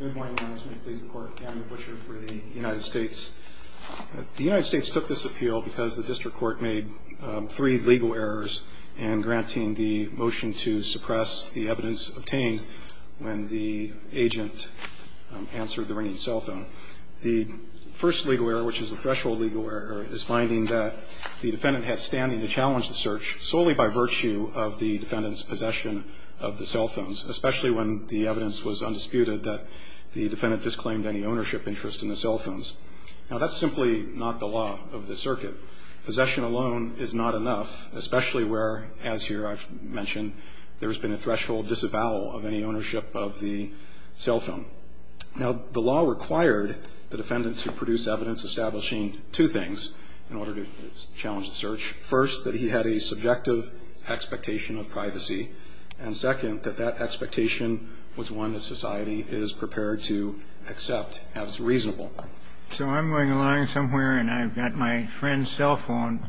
Good morning, Your Honors. May it please the Court, Daniel Butcher for the United States. The United States took this appeal because the district court made three legal errors in granting the motion to suppress the evidence obtained when the agent answered the ringing cell phone. The first legal error, which is the threshold legal error, is finding that the defendant had standing to challenge the search solely by virtue of the defendant's possession of the cell phones, especially when the evidence was undisputed that the defendant disclaimed any ownership interest in the cell phones. Now, that's simply not the law of the circuit. Possession alone is not enough, especially where, as here I've mentioned, there has been a threshold disavowal of any ownership of the cell phone. Now, the law required the defendant to produce evidence establishing two things in order to challenge the search. First, that he had a subjective expectation of privacy. And second, that that expectation was one that society is prepared to accept as reasonable. So I'm going along somewhere, and I've got my friend's cell phone,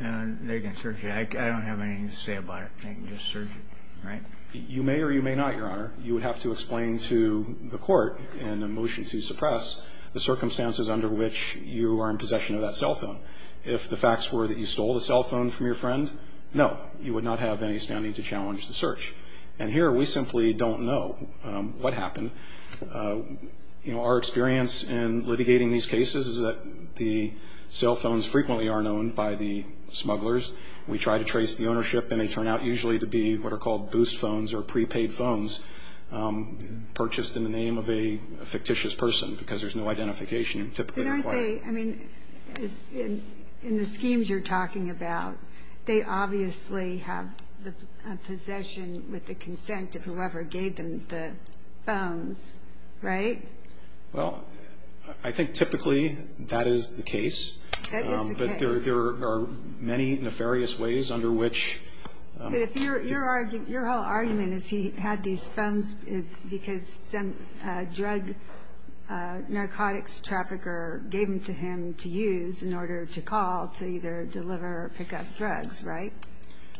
and they can search it. I don't have anything to say about it. They can just search it, right? You may or you may not, Your Honor. You would have to explain to the Court in the motion to suppress the circumstances under which you are in possession of that cell phone. If the facts were that you stole the cell phone from your friend, no, you would not have any standing to challenge the search. And here we simply don't know what happened. You know, our experience in litigating these cases is that the cell phones frequently are known by the smugglers. We try to trace the ownership, and they turn out usually to be what are called boost phones or prepaid phones, purchased in the name of a fictitious person because there's no identification typically required. But aren't they – I mean, in the schemes you're talking about, they obviously have the possession with the consent of whoever gave them the phones, right? Well, I think typically that is the case. That is the case. But there are many nefarious ways under which – Your whole argument is he had these phones because some drug narcotics trafficker gave them to him to use in order to call to either deliver or pick up drugs, right?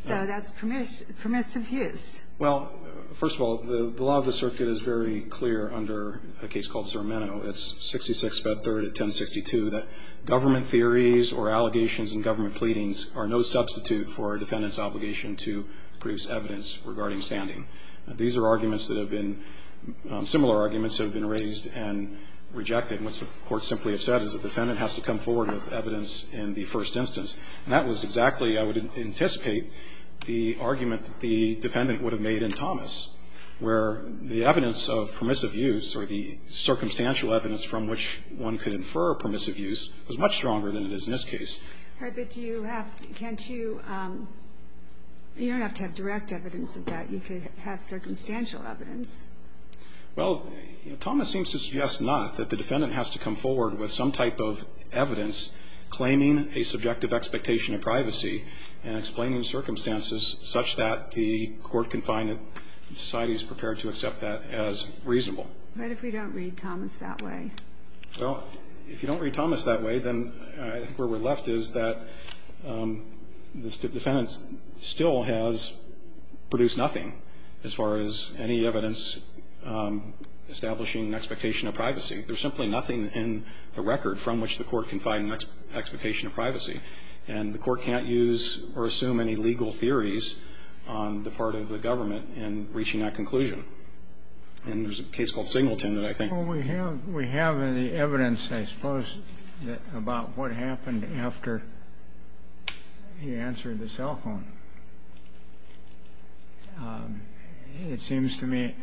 So that's permissive use. Well, first of all, the law of the circuit is very clear under a case called Zermeno. It's 66 Fed 3rd at 1062. That government theories or allegations in government pleadings are no substitute for a defendant's obligation to produce evidence regarding standing. These are arguments that have been – similar arguments have been raised and rejected. And what the courts simply have said is the defendant has to come forward with evidence in the first instance. And that was exactly, I would anticipate, the argument that the defendant would have made in Thomas, where the evidence of permissive use or the circumstantial evidence from which one could infer permissive use was much stronger than it is in this case. All right. But do you have – can't you – you don't have to have direct evidence of that. You could have circumstantial evidence. Well, Thomas seems to suggest not that the defendant has to come forward with some type of evidence claiming a subjective expectation of privacy and explaining circumstances such that the court can find that society is prepared to accept that as reasonable. What if we don't read Thomas that way? Well, if you don't read Thomas that way, then I think where we're left is that the defendant still has produced nothing as far as any evidence establishing an expectation of privacy. There's simply nothing in the record from which the court can find an expectation of privacy. And the court can't use or assume any legal theories on the part of the government in reaching that conclusion. And there's a case called Singleton that I think – Well, we have the evidence, I suppose, about what happened after he answered the cell phone. It seems to me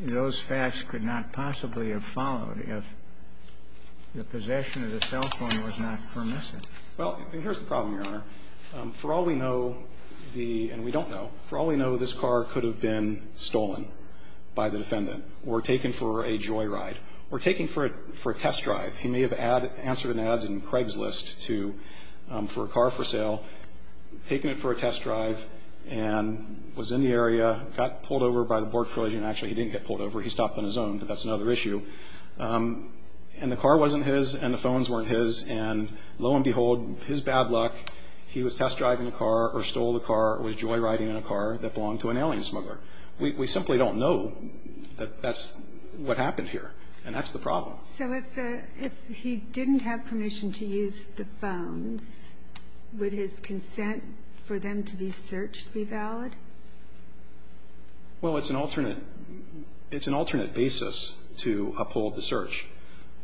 those facts could not possibly have followed if the possession of the cell phone was not permissive. Well, here's the problem, Your Honor. For all we know, the – and we don't know – for all we know, this car could have been stolen by the defendant or taken for a joyride or taken for a test drive. He may have answered an ad in Craigslist to – for a car for sale, taken it for a test drive and was in the area, got pulled over by the board collision. Actually, he didn't get pulled over. He stopped on his own, but that's another issue. And the car wasn't his and the phones weren't his. And lo and behold, his bad luck, he was test driving the car or stole the car or was joyriding in a car that belonged to an alien smuggler. We simply don't know that that's what happened here. And that's the problem. So if the – if he didn't have permission to use the phones, would his consent for them to be searched be valid? Well, it's an alternate – it's an alternate basis to uphold the search.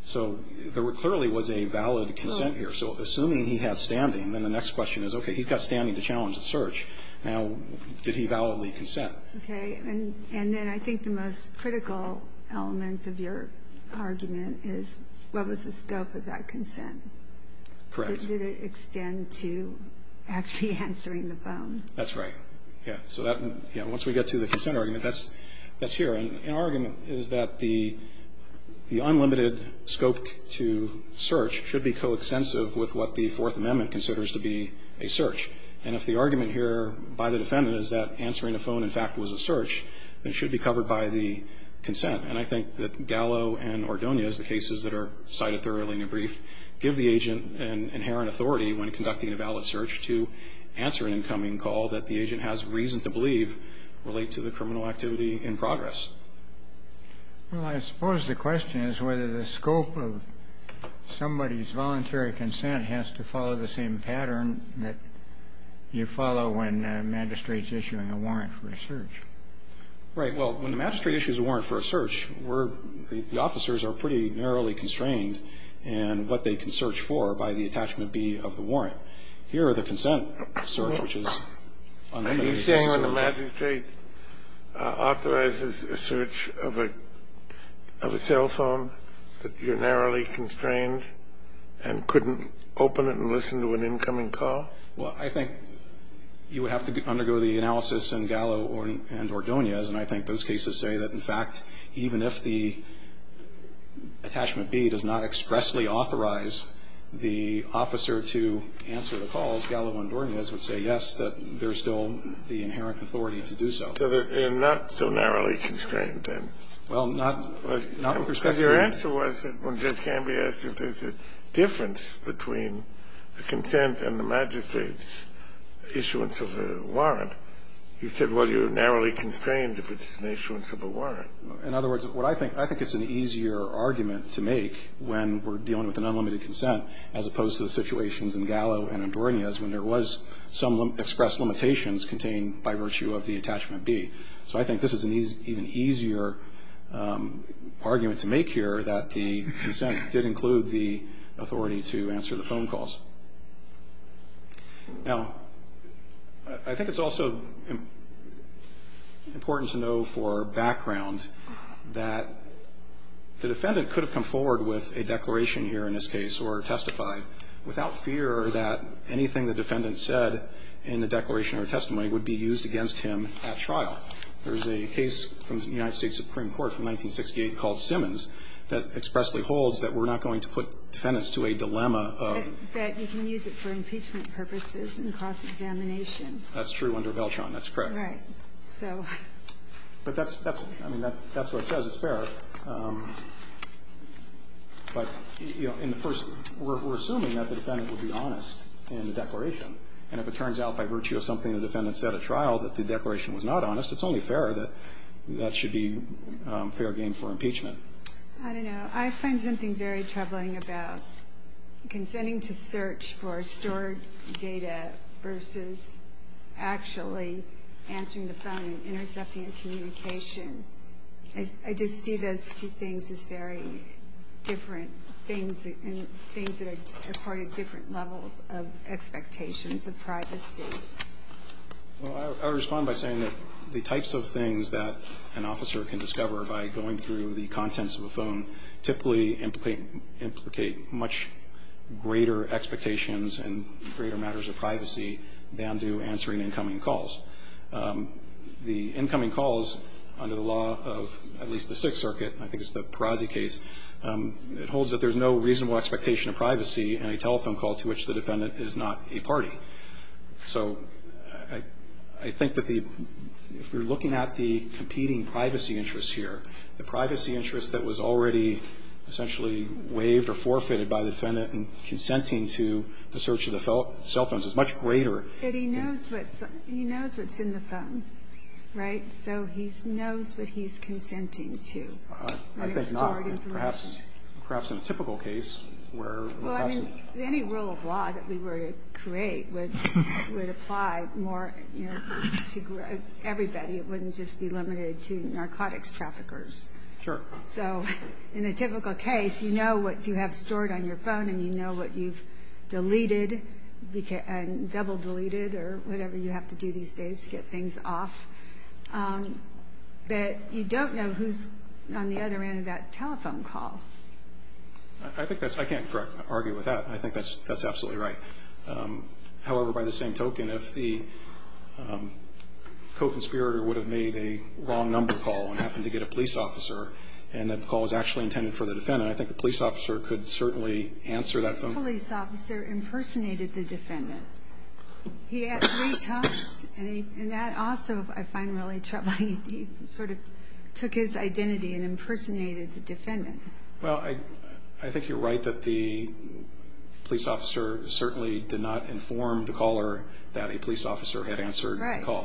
So there clearly was a valid consent here. So assuming he had standing, then the next question is, okay, he's got standing to challenge the search. Now, did he validly consent? Okay. And then I think the most critical element of your argument is what was the scope of that consent? Correct. Did it extend to actually answering the phone? That's right. Yeah. So that – yeah, once we get to the consent argument, that's here. And our argument is that the unlimited scope to search should be coextensive with what the Fourth Amendment considers to be a search. And if the argument here by the defendant is that answering a phone, in fact, was a search, then it should be covered by the consent. And I think that Gallo and Ordonez, the cases that are cited thoroughly in your brief, give the agent an inherent authority when conducting a valid search to answer an incoming call that the agent has reason to believe relate to the criminal activity in progress. Well, I suppose the question is whether the scope of somebody's voluntary consent has to follow the same pattern that you follow when magistrate's issuing a warrant for a search. Right. Well, when the magistrate issues a warrant for a search, we're – the officers are pretty narrowly constrained. And what they can search for by the attachment B of the warrant. Here are the consent search, which is unlimited. Are you saying when the magistrate authorizes a search of a cell phone that you're narrowly constrained and couldn't open it and listen to an incoming call? Well, I think you would have to undergo the analysis in Gallo and Ordonez. And I think those cases say that, in fact, even if the attachment B does not expressly authorize the officer to answer the calls, Gallo and Ordonez would say, yes, that there's still the inherent authority to do so. So they're not so narrowly constrained, then? Well, not with respect to the – But your answer was that when Judge Canby asked if there's a difference between the consent and the magistrate's issuance of a warrant, you said, well, you're narrowly constrained if it's an issuance of a warrant. In other words, what I think – I think it's an easier argument to make when we're dealing with an unlimited consent as opposed to the situations in Gallo and Ordonez when there was some expressed limitations contained by virtue of the attachment B. So I think this is an even easier argument to make here that the consent did include the authority to answer the phone calls. Now, I think it's also important to know for background that the defendant could have come forward with a declaration here in this case or testified without fear that anything the defendant said in the declaration or testimony would be used against him at trial. There's a case from the United States Supreme Court from 1968 called Simmons that expressly holds that we're not going to put defendants to a dilemma of – That you can use it for impeachment purposes and cross-examination. That's true under Veltron. That's correct. Right. So – But that's – I mean, that's what it says. It's fair. But, you know, in the first – we're assuming that the defendant would be honest in the declaration, and if it turns out by virtue of something the defendant said at trial that the declaration was not honest, it's only fair that that should be fair game for impeachment. I don't know. I find something very troubling about consenting to search for stored data versus actually answering the phone and intercepting a communication. I just see those two things as very different things and things that are part of different levels of expectations of privacy. Well, I would respond by saying that the types of things that an officer can discover by going through the contents of a phone typically implicate much greater expectations and greater matters of privacy than do answering incoming calls. The incoming calls under the law of at least the Sixth Circuit, and I think it's the Perazzi case, it holds that there's no reasonable expectation of privacy in a telephone call to which the defendant is not a party. So I think that if you're looking at the competing privacy interests here, the privacy interest that was already essentially waived or forfeited by the defendant in consenting to the search of the cell phones is much greater. But he knows what's in the phone, right? So he knows what he's consenting to. I think not. Perhaps in a typical case where perhaps the – would apply more to everybody. It wouldn't just be limited to narcotics traffickers. Sure. So in a typical case, you know what you have stored on your phone and you know what you've deleted and double deleted or whatever you have to do these days to get things off. But you don't know who's on the other end of that telephone call. I think that's – I can't argue with that. I think that's absolutely right. However, by the same token, if the co-conspirator would have made a wrong number call and happened to get a police officer and that call was actually intended for the defendant, I think the police officer could certainly answer that phone. The police officer impersonated the defendant. He asked three times, and that also I find really troubling. He sort of took his identity and impersonated the defendant. Well, I think you're right that the police officer certainly did not inform the caller that a police officer had answered the call.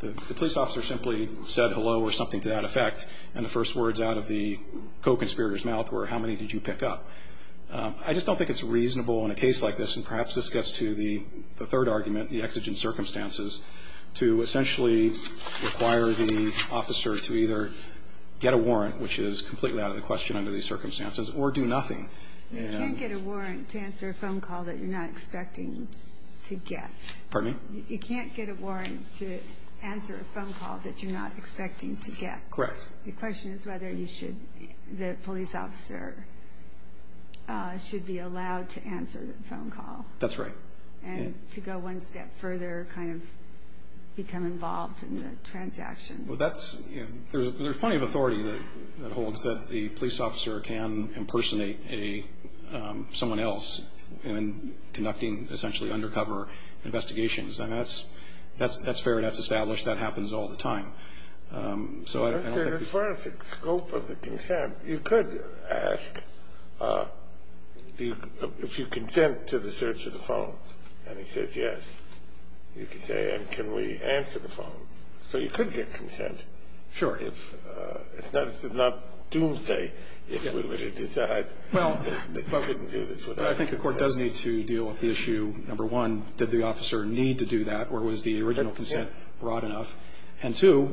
The police officer simply said hello or something to that effect, and the first words out of the co-conspirator's mouth were, how many did you pick up? I just don't think it's reasonable in a case like this, and perhaps this gets to the third argument, the exigent circumstances, to essentially require the officer to either get a warrant, which is completely out of the question under these circumstances, or do nothing. You can't get a warrant to answer a phone call that you're not expecting to get. Pardon me? You can't get a warrant to answer a phone call that you're not expecting to get. Correct. The question is whether the police officer should be allowed to answer the phone call. That's right. And to go one step further, kind of become involved in the transaction. Well, that's – there's plenty of authority that holds that the police officer can impersonate someone else in conducting essentially undercover investigations. I mean, that's fair. That's established. That happens all the time. So I don't think the – As far as the scope of the consent, you could ask if you consent to the search of the phone, You could say, and can we answer the phone? So you could get consent. Sure. If – this is not doomsday. If we were to decide that we couldn't do this without consent. Well, I think the Court does need to deal with the issue, number one, did the officer need to do that, or was the original consent broad enough? And two,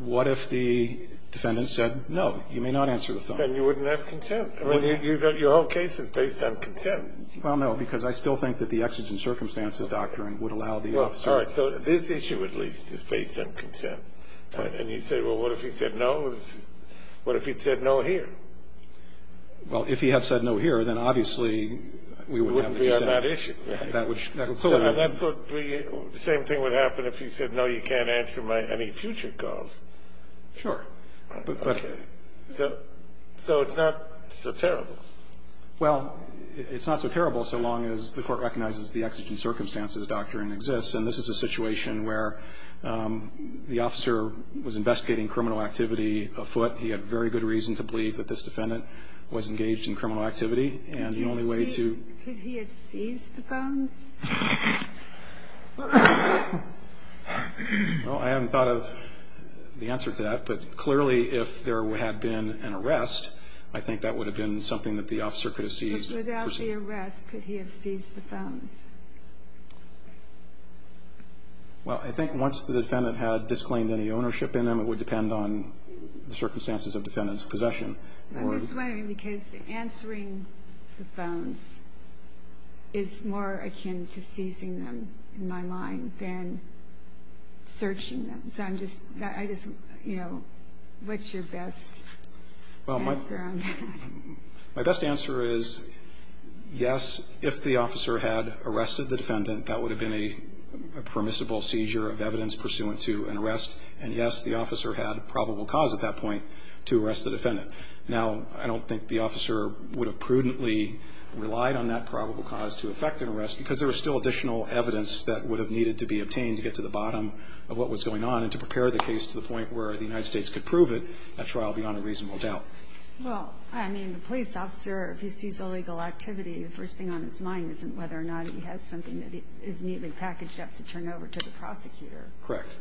what if the defendant said, no, you may not answer the phone? Then you wouldn't have consent. I mean, your whole case is based on consent. All right. So this issue, at least, is based on consent. And you say, well, what if he said no? What if he'd said no here? Well, if he had said no here, then obviously we would have consent. We wouldn't be on that issue. That would – That's what we – same thing would happen if he said, no, you can't answer my – any future calls. Sure. But – Okay. So it's not so terrible. Well, it's not so terrible so long as the Court recognizes the exigent circumstances of the doctrine exists. And this is a situation where the officer was investigating criminal activity afoot. He had very good reason to believe that this defendant was engaged in criminal activity. And the only way to – Could he have seized the phones? Well, I haven't thought of the answer to that. But clearly, if there had been an arrest, I think that would have been something that the officer could have seized. Without the arrest, could he have seized the phones? Well, I think once the defendant had disclaimed any ownership in them, it would depend on the circumstances of the defendant's possession. I was wondering, because answering the phones is more akin to seizing them, in my mind, than searching them. So I'm just – I just – you know, what's your best answer on that? My best answer is, yes, if the officer had arrested the defendant, that would have been a permissible seizure of evidence pursuant to an arrest. And, yes, the officer had probable cause at that point to arrest the defendant. Now, I don't think the officer would have prudently relied on that probable cause to effect an arrest because there was still additional evidence that would have needed to be obtained to get to the bottom of what was going on and to prepare the case to the point where the United States could prove it at trial beyond a reasonable doubt. Well, I mean, the police officer, if he sees illegal activity, the first thing on his mind isn't whether or not he has something that is neatly packaged up to turn over to the prosecutor. Correct.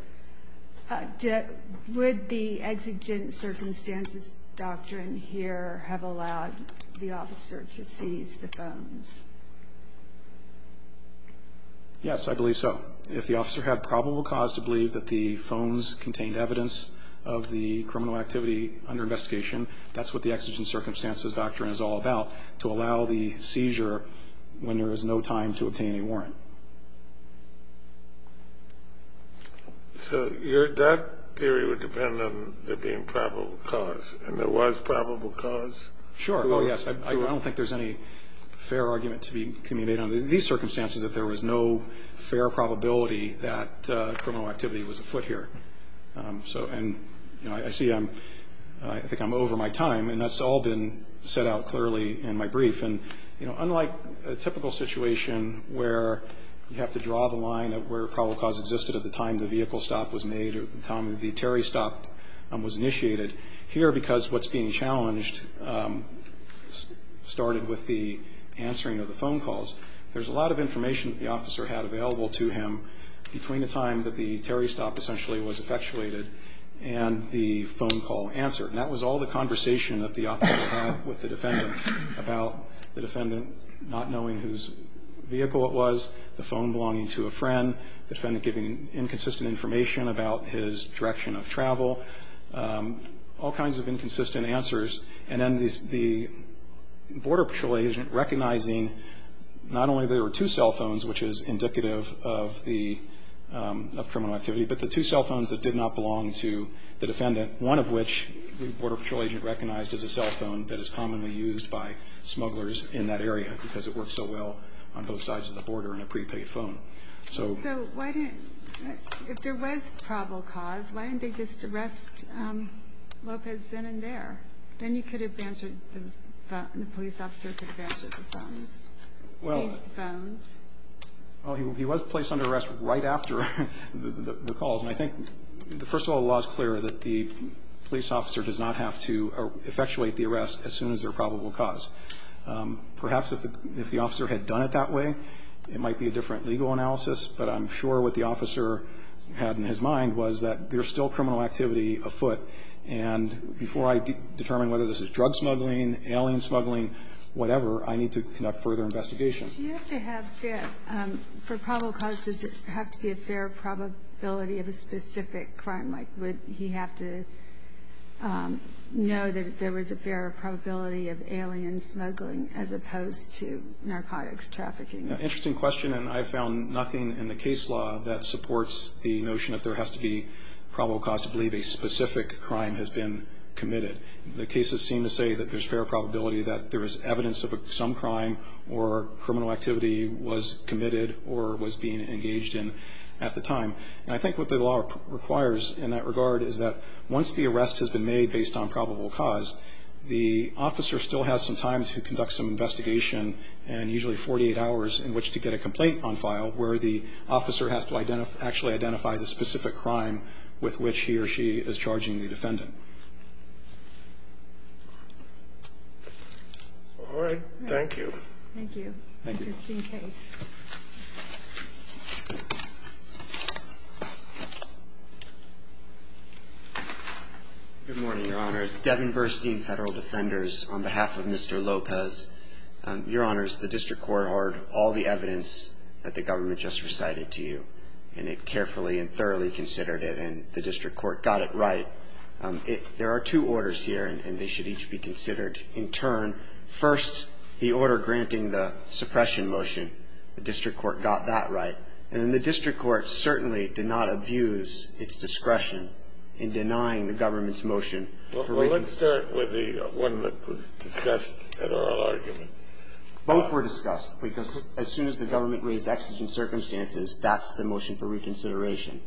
Would the exigent circumstances doctrine here have allowed the officer to seize the phones? Yes, I believe so. If the officer had probable cause to believe that the phones contained evidence of the criminal activity under investigation, that's what the exigent circumstances doctrine is all about, to allow the seizure when there is no time to obtain a warrant. So that theory would depend on there being probable cause. And there was probable cause? Sure. Oh, yes. I don't think there's any fair argument to be communicated under these circumstances that there was no fair probability that criminal activity was afoot here. And, you know, I see I'm over my time, and that's all been set out clearly in my brief. And, you know, unlike a typical situation where you have to draw the line of where probable cause existed at the time the vehicle stop was made or at the time the Terry stop was initiated, here because what's being challenged started with the answering of the phone calls, there's a lot of information that the officer had available to him between the time that the Terry stop essentially was effectuated and the phone call answered. And that was all the conversation that the officer had with the defendant about the defendant not knowing whose vehicle it was, the phone belonging to a friend, the defendant giving inconsistent information about his direction of travel, all kinds of inconsistent answers. And then the Border Patrol agent recognizing not only there were two cell phones, which is indicative of the criminal activity, but the two cell phones that did not belong to the defendant, one of which the Border Patrol agent recognized as a cell phone that is commonly used by smugglers in that area because it works so well on both sides of the border in a prepaid phone. So if there was probable cause, why didn't they just arrest Lopez then and there? Then you could have answered the police officer could have answered the phones, seized the phones. Well, he was placed under arrest right after the calls. And I think, first of all, the law is clear that the police officer does not have to effectuate the arrest as soon as there's probable cause. Perhaps if the officer had done it that way, it might be a different legal analysis, but I'm sure what the officer had in his mind was that there's still criminal activity afoot. And before I determine whether this is drug smuggling, alien smuggling, whatever, I need to conduct further investigations. Do you have to have for probable cause, does it have to be a fair probability of a specific crime? Like, would he have to know that there was a fair probability of alien smuggling as opposed to narcotics trafficking? Interesting question, and I found nothing in the case law that supports the notion that there has to be probable cause to believe a specific crime has been committed. The cases seem to say that there's fair probability that there is evidence of some crime or criminal activity was committed or was being engaged in at the time. And I think what the law requires in that regard is that once the arrest has been made based on probable cause, the officer still has some time to conduct some investigation and usually 48 hours in which to get a complaint on file where the officer has to actually identify the specific crime with which he or she is charging the defendant. All right. Thank you. Thank you. Interesting case. Good morning, Your Honors. Devin Burstein, Federal Defenders, on behalf of Mr. Lopez. Your Honors, the district court heard all the evidence that the government just recited to you, and it carefully and thoroughly considered it, and the district court got it right. There are two orders here, and they should each be considered. In turn, first, the order granting the suppression motion, the district court got that right. And then the district court certainly did not abuse its discretion in denying the government's motion. Well, let's start with the one that was discussed at oral argument. Both were discussed, because as soon as the government raised exigent circumstances, that's the motion for reconsideration.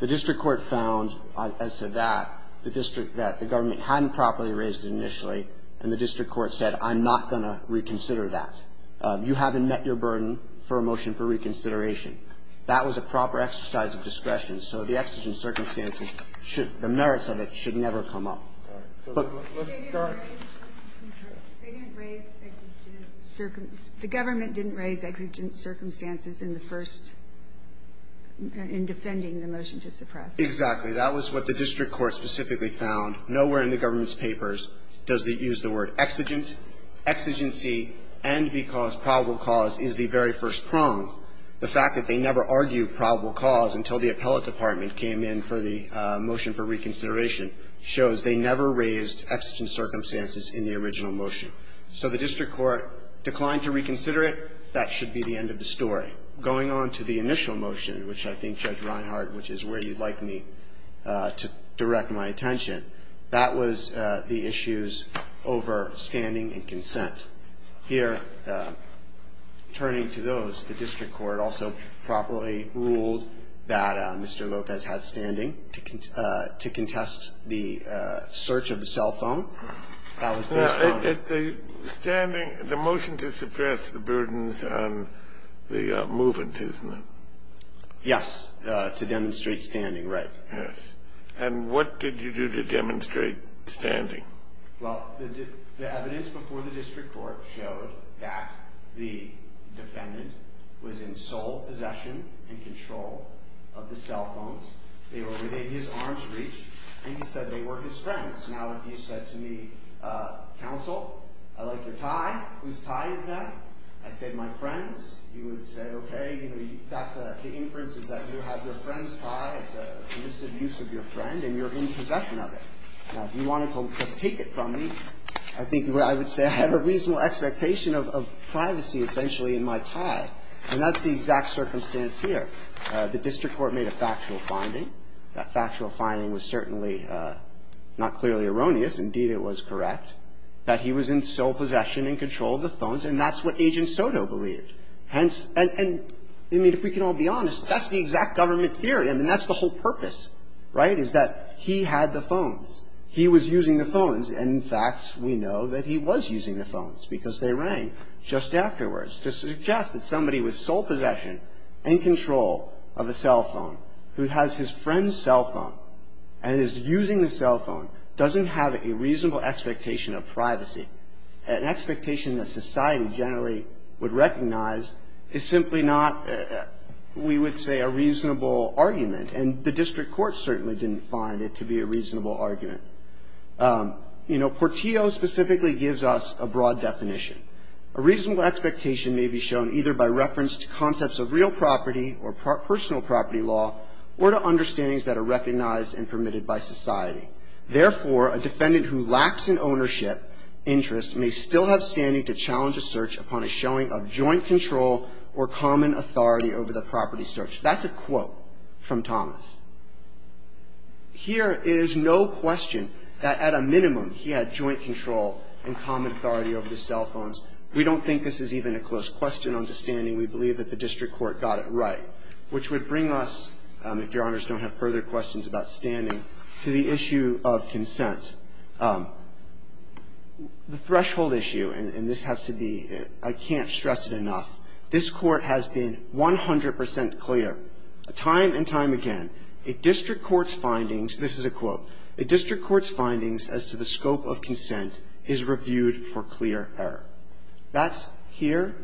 The district court found, as to that, the district that the government hadn't properly raised initially, and the district court said, I'm not going to reconsider that. You haven't met your burden for a motion for reconsideration. That was a proper exercise of discretion. So the exigent circumstances should, the merits of it should never come up. Let's start. They didn't raise exigent circumstances. The government didn't raise exigent circumstances in the first, in defending the motion to suppress. Exactly. That was what the district court specifically found. Nowhere in the government's papers does it use the word exigent, exigency, and because probable cause is the very first prong. The fact that they never argued probable cause until the appellate department came in for the motion for reconsideration shows they never raised exigent circumstances in the original motion. So the district court declined to reconsider it. That should be the end of the story. Going on to the initial motion, which I think, Judge Reinhart, which is where you'd like me to direct my attention, that was the issues over standing and consent. Here, turning to those, the district court also properly ruled that Mr. Lopez had standing to contest the search of the cell phone. That was based on the motion to suppress the burdens on the movement, isn't it? Yes. To demonstrate standing, right. Yes. And what did you do to demonstrate standing? Well, the evidence before the district court showed that the defendant was in sole possession and control of the cell phones. They were within his arm's reach, and he said they were his friends. Now, if you said to me, counsel, I like your tie. Whose tie is that? I said my friend's. You would say, okay, that's a, the inference is that you have your friend's tie. It's a misuse of your friend, and you're in possession of it. Now, if you wanted to just take it from me, I think I would say I had a reasonable expectation of privacy, essentially, in my tie. And that's the exact circumstance here. The district court made a factual finding. That factual finding was certainly not clearly erroneous. Indeed, it was correct that he was in sole possession and control of the phones, and that's what Agent Soto believed. Hence, and, I mean, if we can all be honest, that's the exact government theory. And, in fact, we know that he was using the phones, because they rang just afterwards to suggest that somebody with sole possession and control of a cell phone who has his friend's cell phone and is using the cell phone doesn't have a reasonable expectation of privacy, an expectation that society generally would recognize is simply not, we would say, a reasonable argument. And the district court certainly didn't find it to be a reasonable argument. You know, Portillo specifically gives us a broad definition. A reasonable expectation may be shown either by reference to concepts of real property or personal property law, or to understandings that are recognized and permitted by society. Therefore, a defendant who lacks an ownership interest may still have standing to challenge a search upon a showing of joint control or common authority over the property search. That's a quote from Thomas. Here, it is no question that at a minimum he had joint control and common authority over the cell phones. We don't think this is even a close question on the standing. We believe that the district court got it right, which would bring us, if Your Honors don't have further questions about standing, to the issue of consent. The threshold issue, and this has to be, I can't stress it enough, this court has been 100 percent clear time and time again that a district court's findings, this is a quote, a district court's findings as to the scope of consent is reviewed for clear error. That's here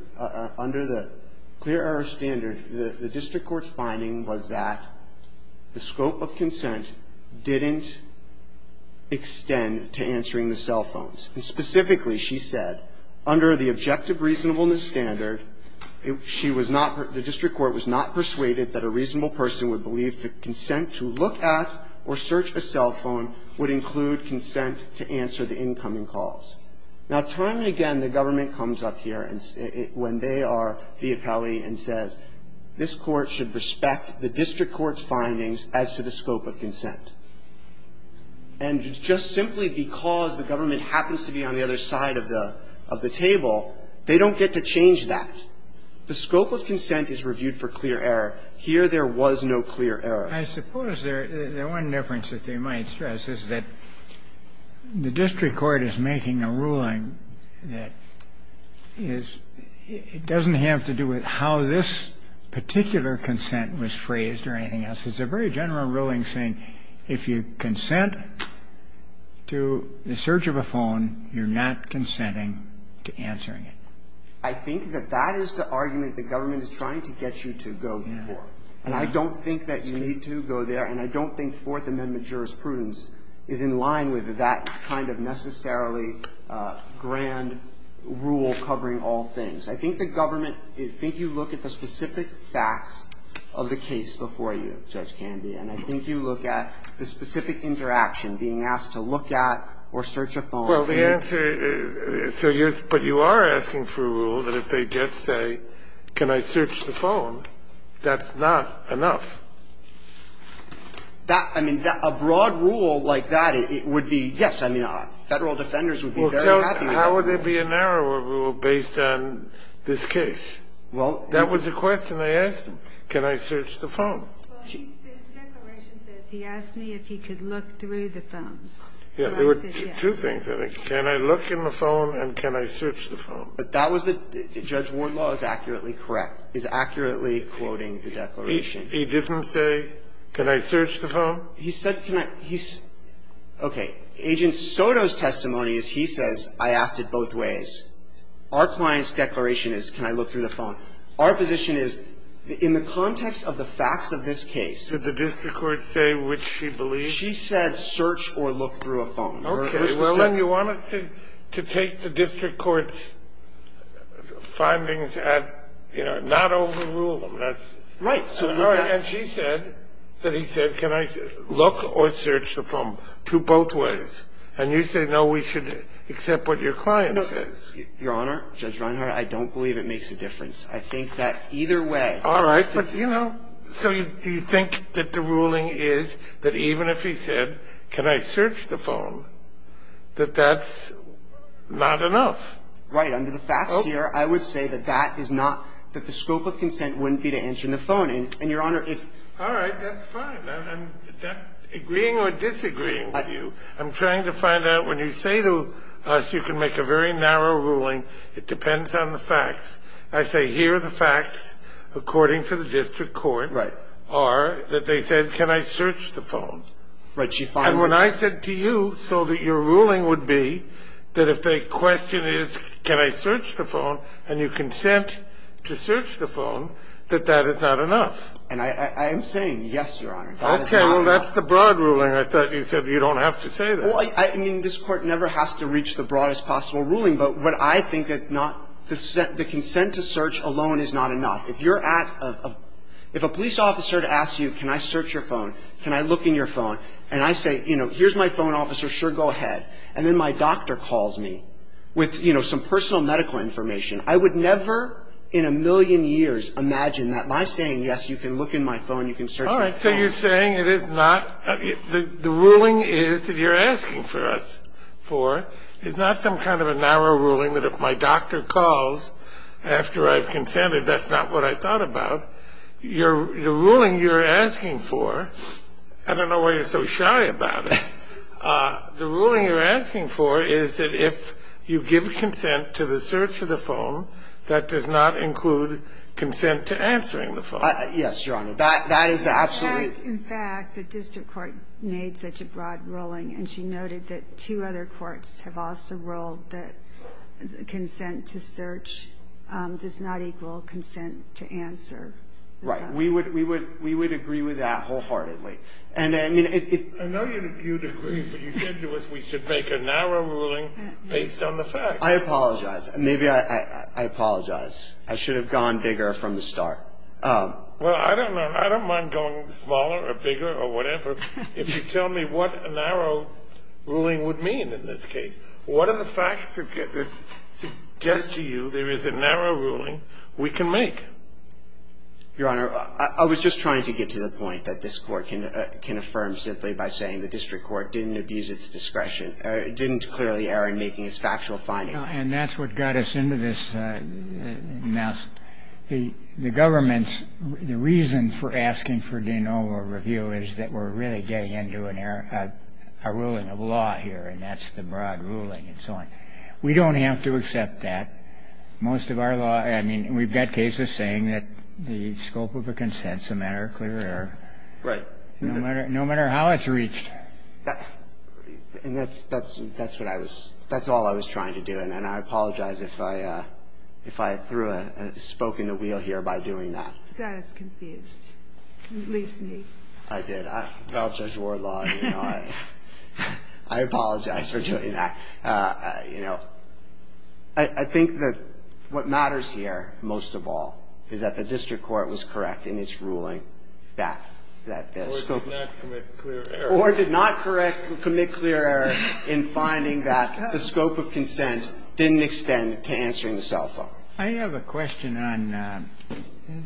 under the clear error standard. The district court's finding was that the scope of consent didn't extend to answering the cell phones, and specifically, she said, under the objective reasonableness standard, she was not, the district court was not persuaded that a reasonable person would believe that consent to look at or search a cell phone would include consent to answer the incoming calls. Now, time and again, the government comes up here when they are the appellee and says, this court should respect the district court's findings as to the scope of consent. And just simply because the government happens to be on the other side of the table, they don't get to change that. The scope of consent is reviewed for clear error. Here, there was no clear error. I suppose the one difference that they might stress is that the district court is making a ruling that is, it doesn't have to do with how this particular consent was phrased or anything else. It's a very general ruling saying if you consent to the search of a phone, you're not consenting to answering it. I think that that is the argument the government is trying to get you to go for. And I don't think that you need to go there, and I don't think Fourth Amendment jurisprudence is in line with that kind of necessarily grand rule covering all things. I think the government, I think you look at the specific facts of the case before you, Judge Candy, and I think you look at the specific interaction, being asked to look at or search a phone. Well, the answer is, but you are asking for a rule that if they just say, can I search the phone, that's not enough. That, I mean, a broad rule like that, it would be, yes, I mean, Federal defenders would be very happy with that. Well, how would there be a narrower rule based on this case? Well, that was the question I asked him, can I search the phone? Well, his declaration says, he asked me if he could look through the phones. So I said yes. There were two things, I think. Can I look in the phone and can I search the phone? But that was the – Judge Wardlaw is accurately correct, is accurately quoting the declaration. He didn't say, can I search the phone? He said, can I – he's – okay. Agent Soto's testimony is he says, I asked it both ways. Our client's declaration is, can I look through the phone. Now, our position is, in the context of the facts of this case – Did the district court say which she believes? She said, search or look through a phone. Okay. Well, then you want us to take the district court's findings at, you know, not overrule them. Right. And she said that he said, can I look or search the phone, to both ways. And you say, no, we should accept what your client says. Your Honor, Judge Reinhart, I don't believe it makes a difference. I think that either way – All right. But, you know, so you think that the ruling is that even if he said, can I search the phone, that that's not enough. Right. Under the facts here, I would say that that is not – that the scope of consent wouldn't be to enter in the phone. And, Your Honor, if – All right. That's fine. I'm agreeing or disagreeing with you. I'm trying to find out, when you say to us you can make a very narrow ruling, it depends on the facts. I say here are the facts according to the district court are that they said, can I search the phone. Right. And when I said to you, so that your ruling would be that if the question is, can I search the phone, and you consent to search the phone, that that is not enough. And I am saying, yes, Your Honor, that is not enough. Okay. Well, that's the broad ruling. I thought you said you don't have to say that. Well, I mean, this Court never has to reach the broadest possible ruling. But what I think that not – the consent to search alone is not enough. If you're at a – if a police officer asks you, can I search your phone, can I look in your phone, and I say, you know, here's my phone, officer, sure, go ahead, and then my doctor calls me with, you know, some personal medical information, I would never in a million years imagine that by saying, yes, you can look in my phone, you can search my phone. All right. So you're saying it is not – the ruling is that you're asking for us for is not some kind of a narrow ruling that if my doctor calls after I've consented, that's not what I thought about. You're – the ruling you're asking for – I don't know why you're so shy about it. The ruling you're asking for is that if you give consent to the search of the phone, that does not include consent to answering the phone. Yes, Your Honor. That is absolutely – In fact, the district court made such a broad ruling, and she noted that two other world, that consent to search does not equal consent to answer. Right. We would agree with that wholeheartedly. And I mean, if – I know you'd agree, but you said to us we should make a narrow ruling based on the fact. I apologize. Maybe I apologize. I should have gone bigger from the start. Well, I don't know. I don't mind going smaller or bigger or whatever if you tell me what a narrow ruling would mean in this case. What are the facts that suggest to you there is a narrow ruling we can make? Your Honor, I was just trying to get to the point that this Court can affirm simply by saying the district court didn't abuse its discretion – didn't declare the error in making its factual finding. And that's what got us into this mess. The government's – the reason for asking for de novo review is that we're really getting into an error – a ruling of law here. And that's the broad ruling and so on. We don't have to accept that. Most of our law – I mean, we've got cases saying that the scope of a consensum error, clear error. Right. No matter how it's reached. And that's what I was – that's all I was trying to do. And I apologize if I threw a – spoke in a wheel here by doing that. You got us confused. At least me. I did. I'm a proud judge of war law, you know. I apologize for doing that. You know, I think that what matters here most of all is that the district court was correct in its ruling that – that the scope of – Or did not commit clear error. Or did not correct – commit clear error in finding that the scope of consent didn't extend to answering the cell phone. I have a question on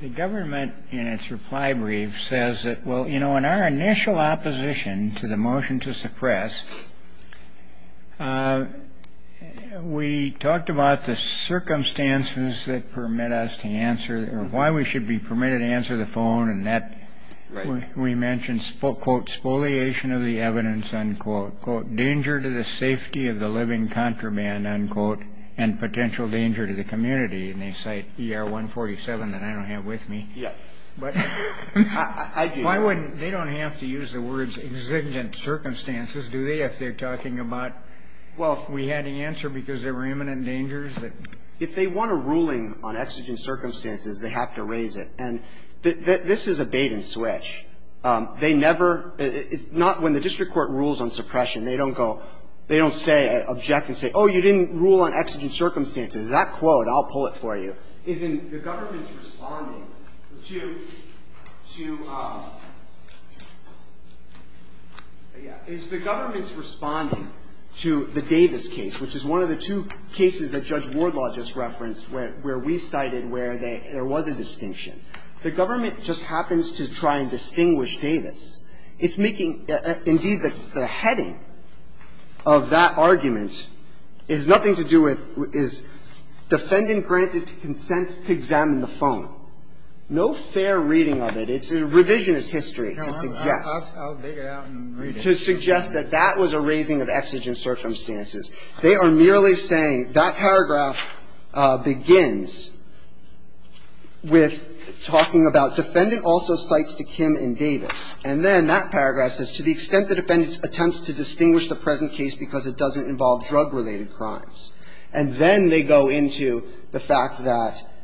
the government in its reply brief says that, well, you know, in our initial opposition to the motion to suppress, we talked about the circumstances that permit us to answer – or why we should be permitted to answer the phone, and that we mentioned, quote, spoliation of the evidence, unquote, quote, danger to the safety of the living contraband, unquote, and potential danger to the community. And they cite ER 147 that I don't have with me. Yeah. But why wouldn't – they don't have to use the words exigent circumstances, do they, if they're talking about, well, if we had to answer because there were imminent dangers that – If they want a ruling on exigent circumstances, they have to raise it. And this is a bait-and-switch. They never – it's not when the district court rules on suppression, they don't go – they don't say, object and say, oh, you didn't rule on exigent circumstances. That quote, I'll pull it for you. But it's in the government's responding to – to – yeah. It's the government's responding to the Davis case, which is one of the two cases that Judge Wardlaw just referenced, where we cited where they – there was a distinction. The government just happens to try and distinguish Davis. It's making – indeed, the heading of that argument has nothing to do with is defendant granted consent to examine the phone. No fair reading of it. It's a revisionist history to suggest – No, I'll dig it out and read it. To suggest that that was a raising of exigent circumstances. They are merely saying that paragraph begins with talking about defendant also cites to Kim in Davis, and then that paragraph says, to the extent the defendant attempts to distinguish the present case because it doesn't involve drug-related crimes, and then they go into the fact that –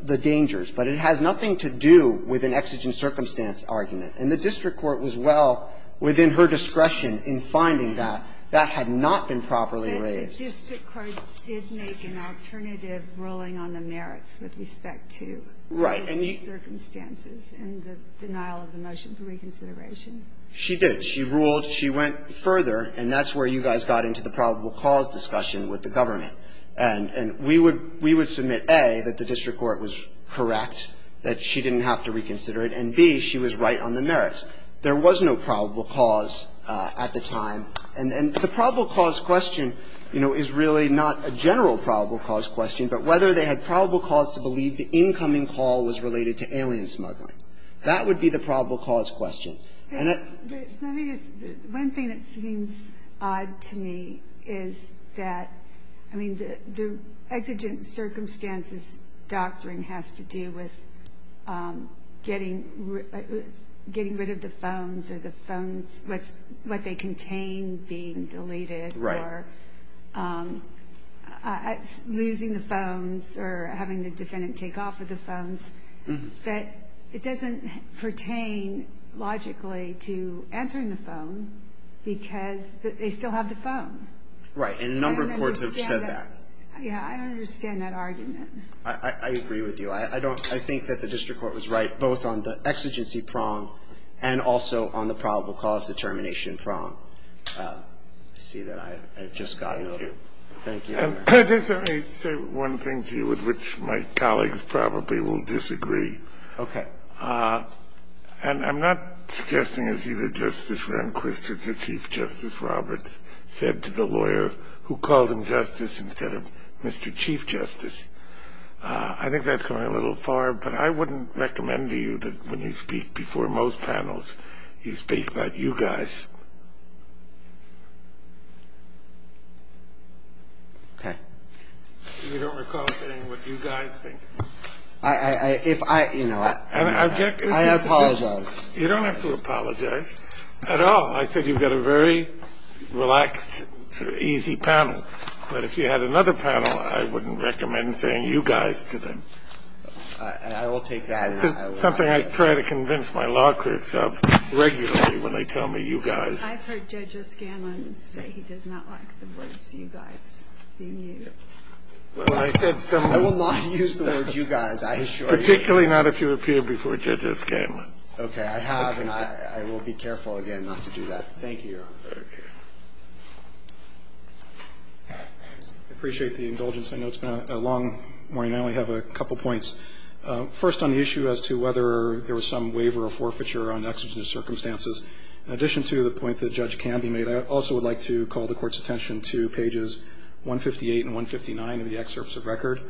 the dangers. But it has nothing to do with an exigent circumstance argument. And the district court was well within her discretion in finding that. That had not been properly raised. But the district court did make an alternative ruling on the merits with respect to raising circumstances and the denial of the motion for reconsideration. She did. She ruled – she went further, and that's where you guys got into the probable cause discussion with the government. And we would – we would submit, A, that the district court was correct, that she didn't have to reconsider it, and, B, she was right on the merits. There was no probable cause at the time. And the probable cause question, you know, is really not a general probable cause question, but whether they had probable cause to believe the incoming call was related to alien smuggling. That would be the probable cause question. And it – Let me just – one thing that seems odd to me is that – I mean, the exigent circumstances doctrine has to do with getting rid of the phones or the phones – what they contain being deleted or losing the phones or having the defendant take off of the phones, that it doesn't pertain logically to answering the phone because they still have the phone. Right. And a number of courts have said that. I don't understand that. Yeah, I don't understand that argument. I agree with you. I don't – I think that the district court was right both on the exigency prong and also on the probable cause determination prong. I see that I've just gotten a little – Thank you. Thank you. Just let me say one thing to you with which my colleagues probably will disagree. Okay. And I'm not suggesting it's either Justice Rehnquist or Chief Justice Roberts said to the lawyer who called him Justice instead of Mr. Chief Justice. I think that's going a little far, but I wouldn't recommend to you that when you speak before most panels, you speak about you guys. Okay. You don't recall saying what you guys think. I – if I – you know, I apologize. You don't have to apologize at all. I said you've got a very relaxed, easy panel. But if you had another panel, I wouldn't recommend saying you guys to them. I will take that. It's something I try to convince my law courts of regularly when they tell me you guys. I've heard Judge O'Scanlan say he does not like the words you guys being used. Well, I said some – I will not use the words you guys, I assure you. Particularly not if you appear before Judge O'Scanlan. Okay. I have, and I will be careful again not to do that. Thank you. Okay. I appreciate the indulgence. I know it's been a long morning. I only have a couple points. First, on the issue as to whether there was some waiver or forfeiture on exigent circumstances, in addition to the point that Judge Canby made, I also would like to call the Court's attention to pages 158 and 159 of the excerpts of record.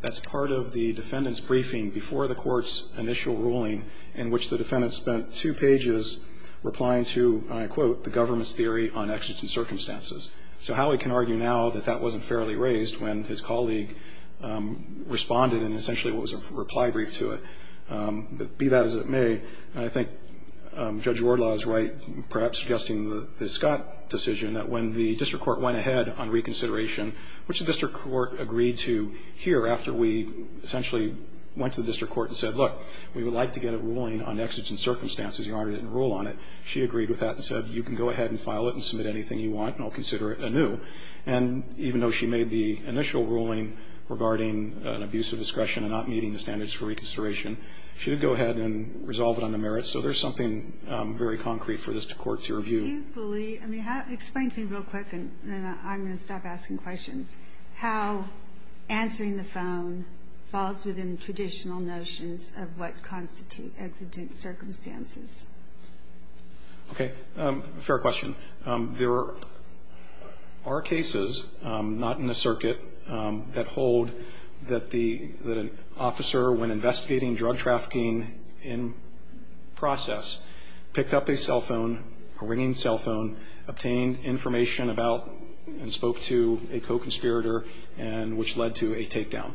That's part of the defendant's briefing before the Court's initial ruling, in which the defendant spent two pages replying to, and I quote, the government's theory on exigent circumstances. So how we can argue now that that wasn't fairly raised when his colleague responded in essentially what was a reply brief to it. But be that as it may, I think Judge Wardlaw is right, perhaps suggesting the Scott decision, that when the district court went ahead on reconsideration, which the district court agreed to here after we essentially went to the district court and said, look, we would like to get a ruling on exigent circumstances. You already didn't rule on it. She agreed with that and said, you can go ahead and file it and submit anything you want, and I'll consider it anew. And even though she made the initial ruling regarding an abuse of discretion and not meeting the standards for reconsideration, she did go ahead and resolve it on the merits. So there's something very concrete for this court to review. Can you explain to me real quick, and then I'm going to stop asking questions, how answering the phone falls within traditional notions of what constitute exigent circumstances? Okay. Fair question. There are cases, not in the circuit, that hold that an officer, when investigating drug trafficking in process, picked up a cell phone, a ringing cell phone, obtained information about and spoke to a co-conspirator, which led to a takedown.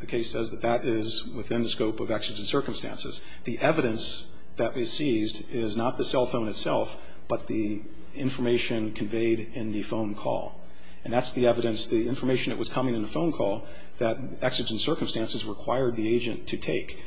The case says that that is within the scope of exigent circumstances. The evidence that is seized is not the cell phone itself, but the information conveyed in the phone call. And that's the evidence, the information that was coming in the phone call, that exigent circumstances required the agent to take.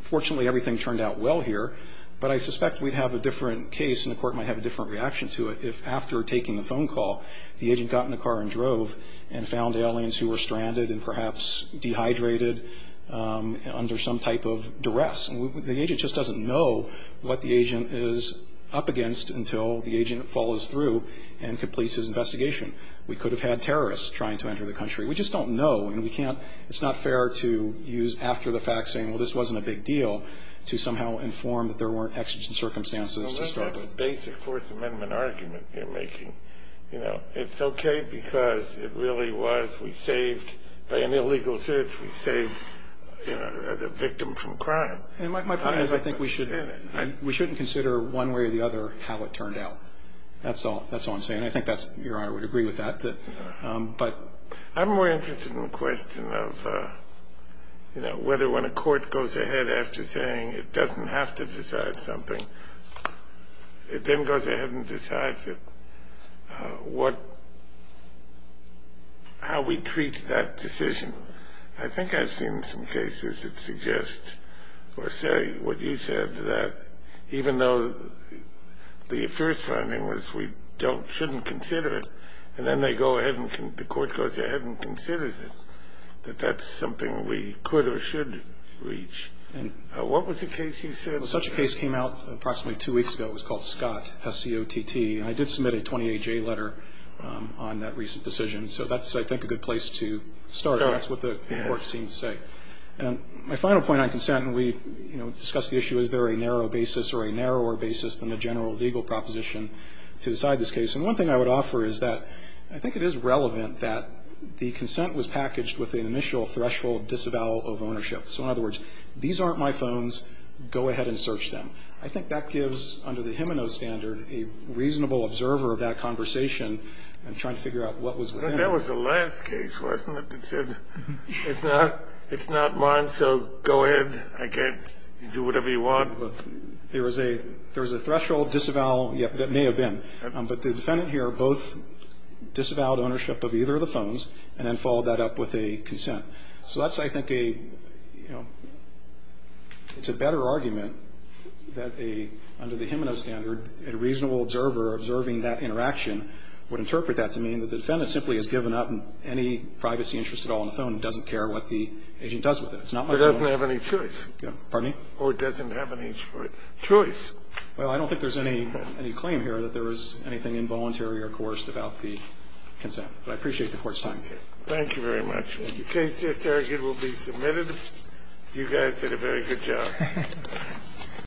Fortunately, everything turned out well here, but I suspect we'd have a different case, and the court might have a different reaction to it, if after taking the phone call, the agent got in the car and drove, and found aliens who were stranded and perhaps dehydrated under some type of duress. The agent just doesn't know what the agent is up against until the agent follows through and completes his investigation. We could have had terrorists trying to enter the country. We just don't know, and it's not fair to use after the fact, saying, well, this wasn't a big deal, to somehow inform that there weren't exigent circumstances to start with. Well, that's a basic Fourth Amendment argument you're making. You know, it's okay because it really was, we saved, by an illegal search, we saved the victim from crime. My point is, I think we shouldn't consider one way or the other, how it turned out. That's all I'm saying. I think Your Honor would agree with that. I'm more interested in the question of, whether when a court goes ahead after saying, it doesn't have to decide something, it then goes ahead and decides it, how we treat that decision. I think I've seen some cases that suggest, or say what you said, that even though the first finding was, we shouldn't consider it, and then the court goes ahead and considers it, that that's something we could or should reach. What was the case you said? Such a case came out approximately two weeks ago. It was called Scott, S-C-O-T-T. I did submit a 28-J letter on that recent decision. So that's, I think, a good place to start. That's what the court seemed to say. My final point on consent, and we discussed the issue, is there a narrow basis or a narrower basis than the general legal proposition to decide this case? And one thing I would offer is that, I think it is relevant that the consent was packaged with an initial threshold disavowal of ownership. So in other words, these aren't my phones, go ahead and search them. I think that gives, under the Gimeno standard, a reasonable observer of that conversation, and trying to figure out what was within it. That was the last case, wasn't it, that said, it's not mine, so go ahead, I can't do whatever you want. There was a threshold disavowal, that may have been, but the defendant here both disavowed ownership of either of the phones, and then followed that up with a consent. So that's, I think, a, you know, it's a better argument that a, under the Gimeno standard, a reasonable observer observing that interaction would interpret that to mean that the defendant simply has given up any privacy interest at all in the phone and doesn't care what the agent does with it. That's not my point. It doesn't have any choice. Pardon me? Or it doesn't have any choice. Well, I don't think there's any claim here that there was anything involuntary or coerced about the consent. But I appreciate the Court's time. Thank you very much. Thank you. The case just argued will be submitted. You guys did a very good job.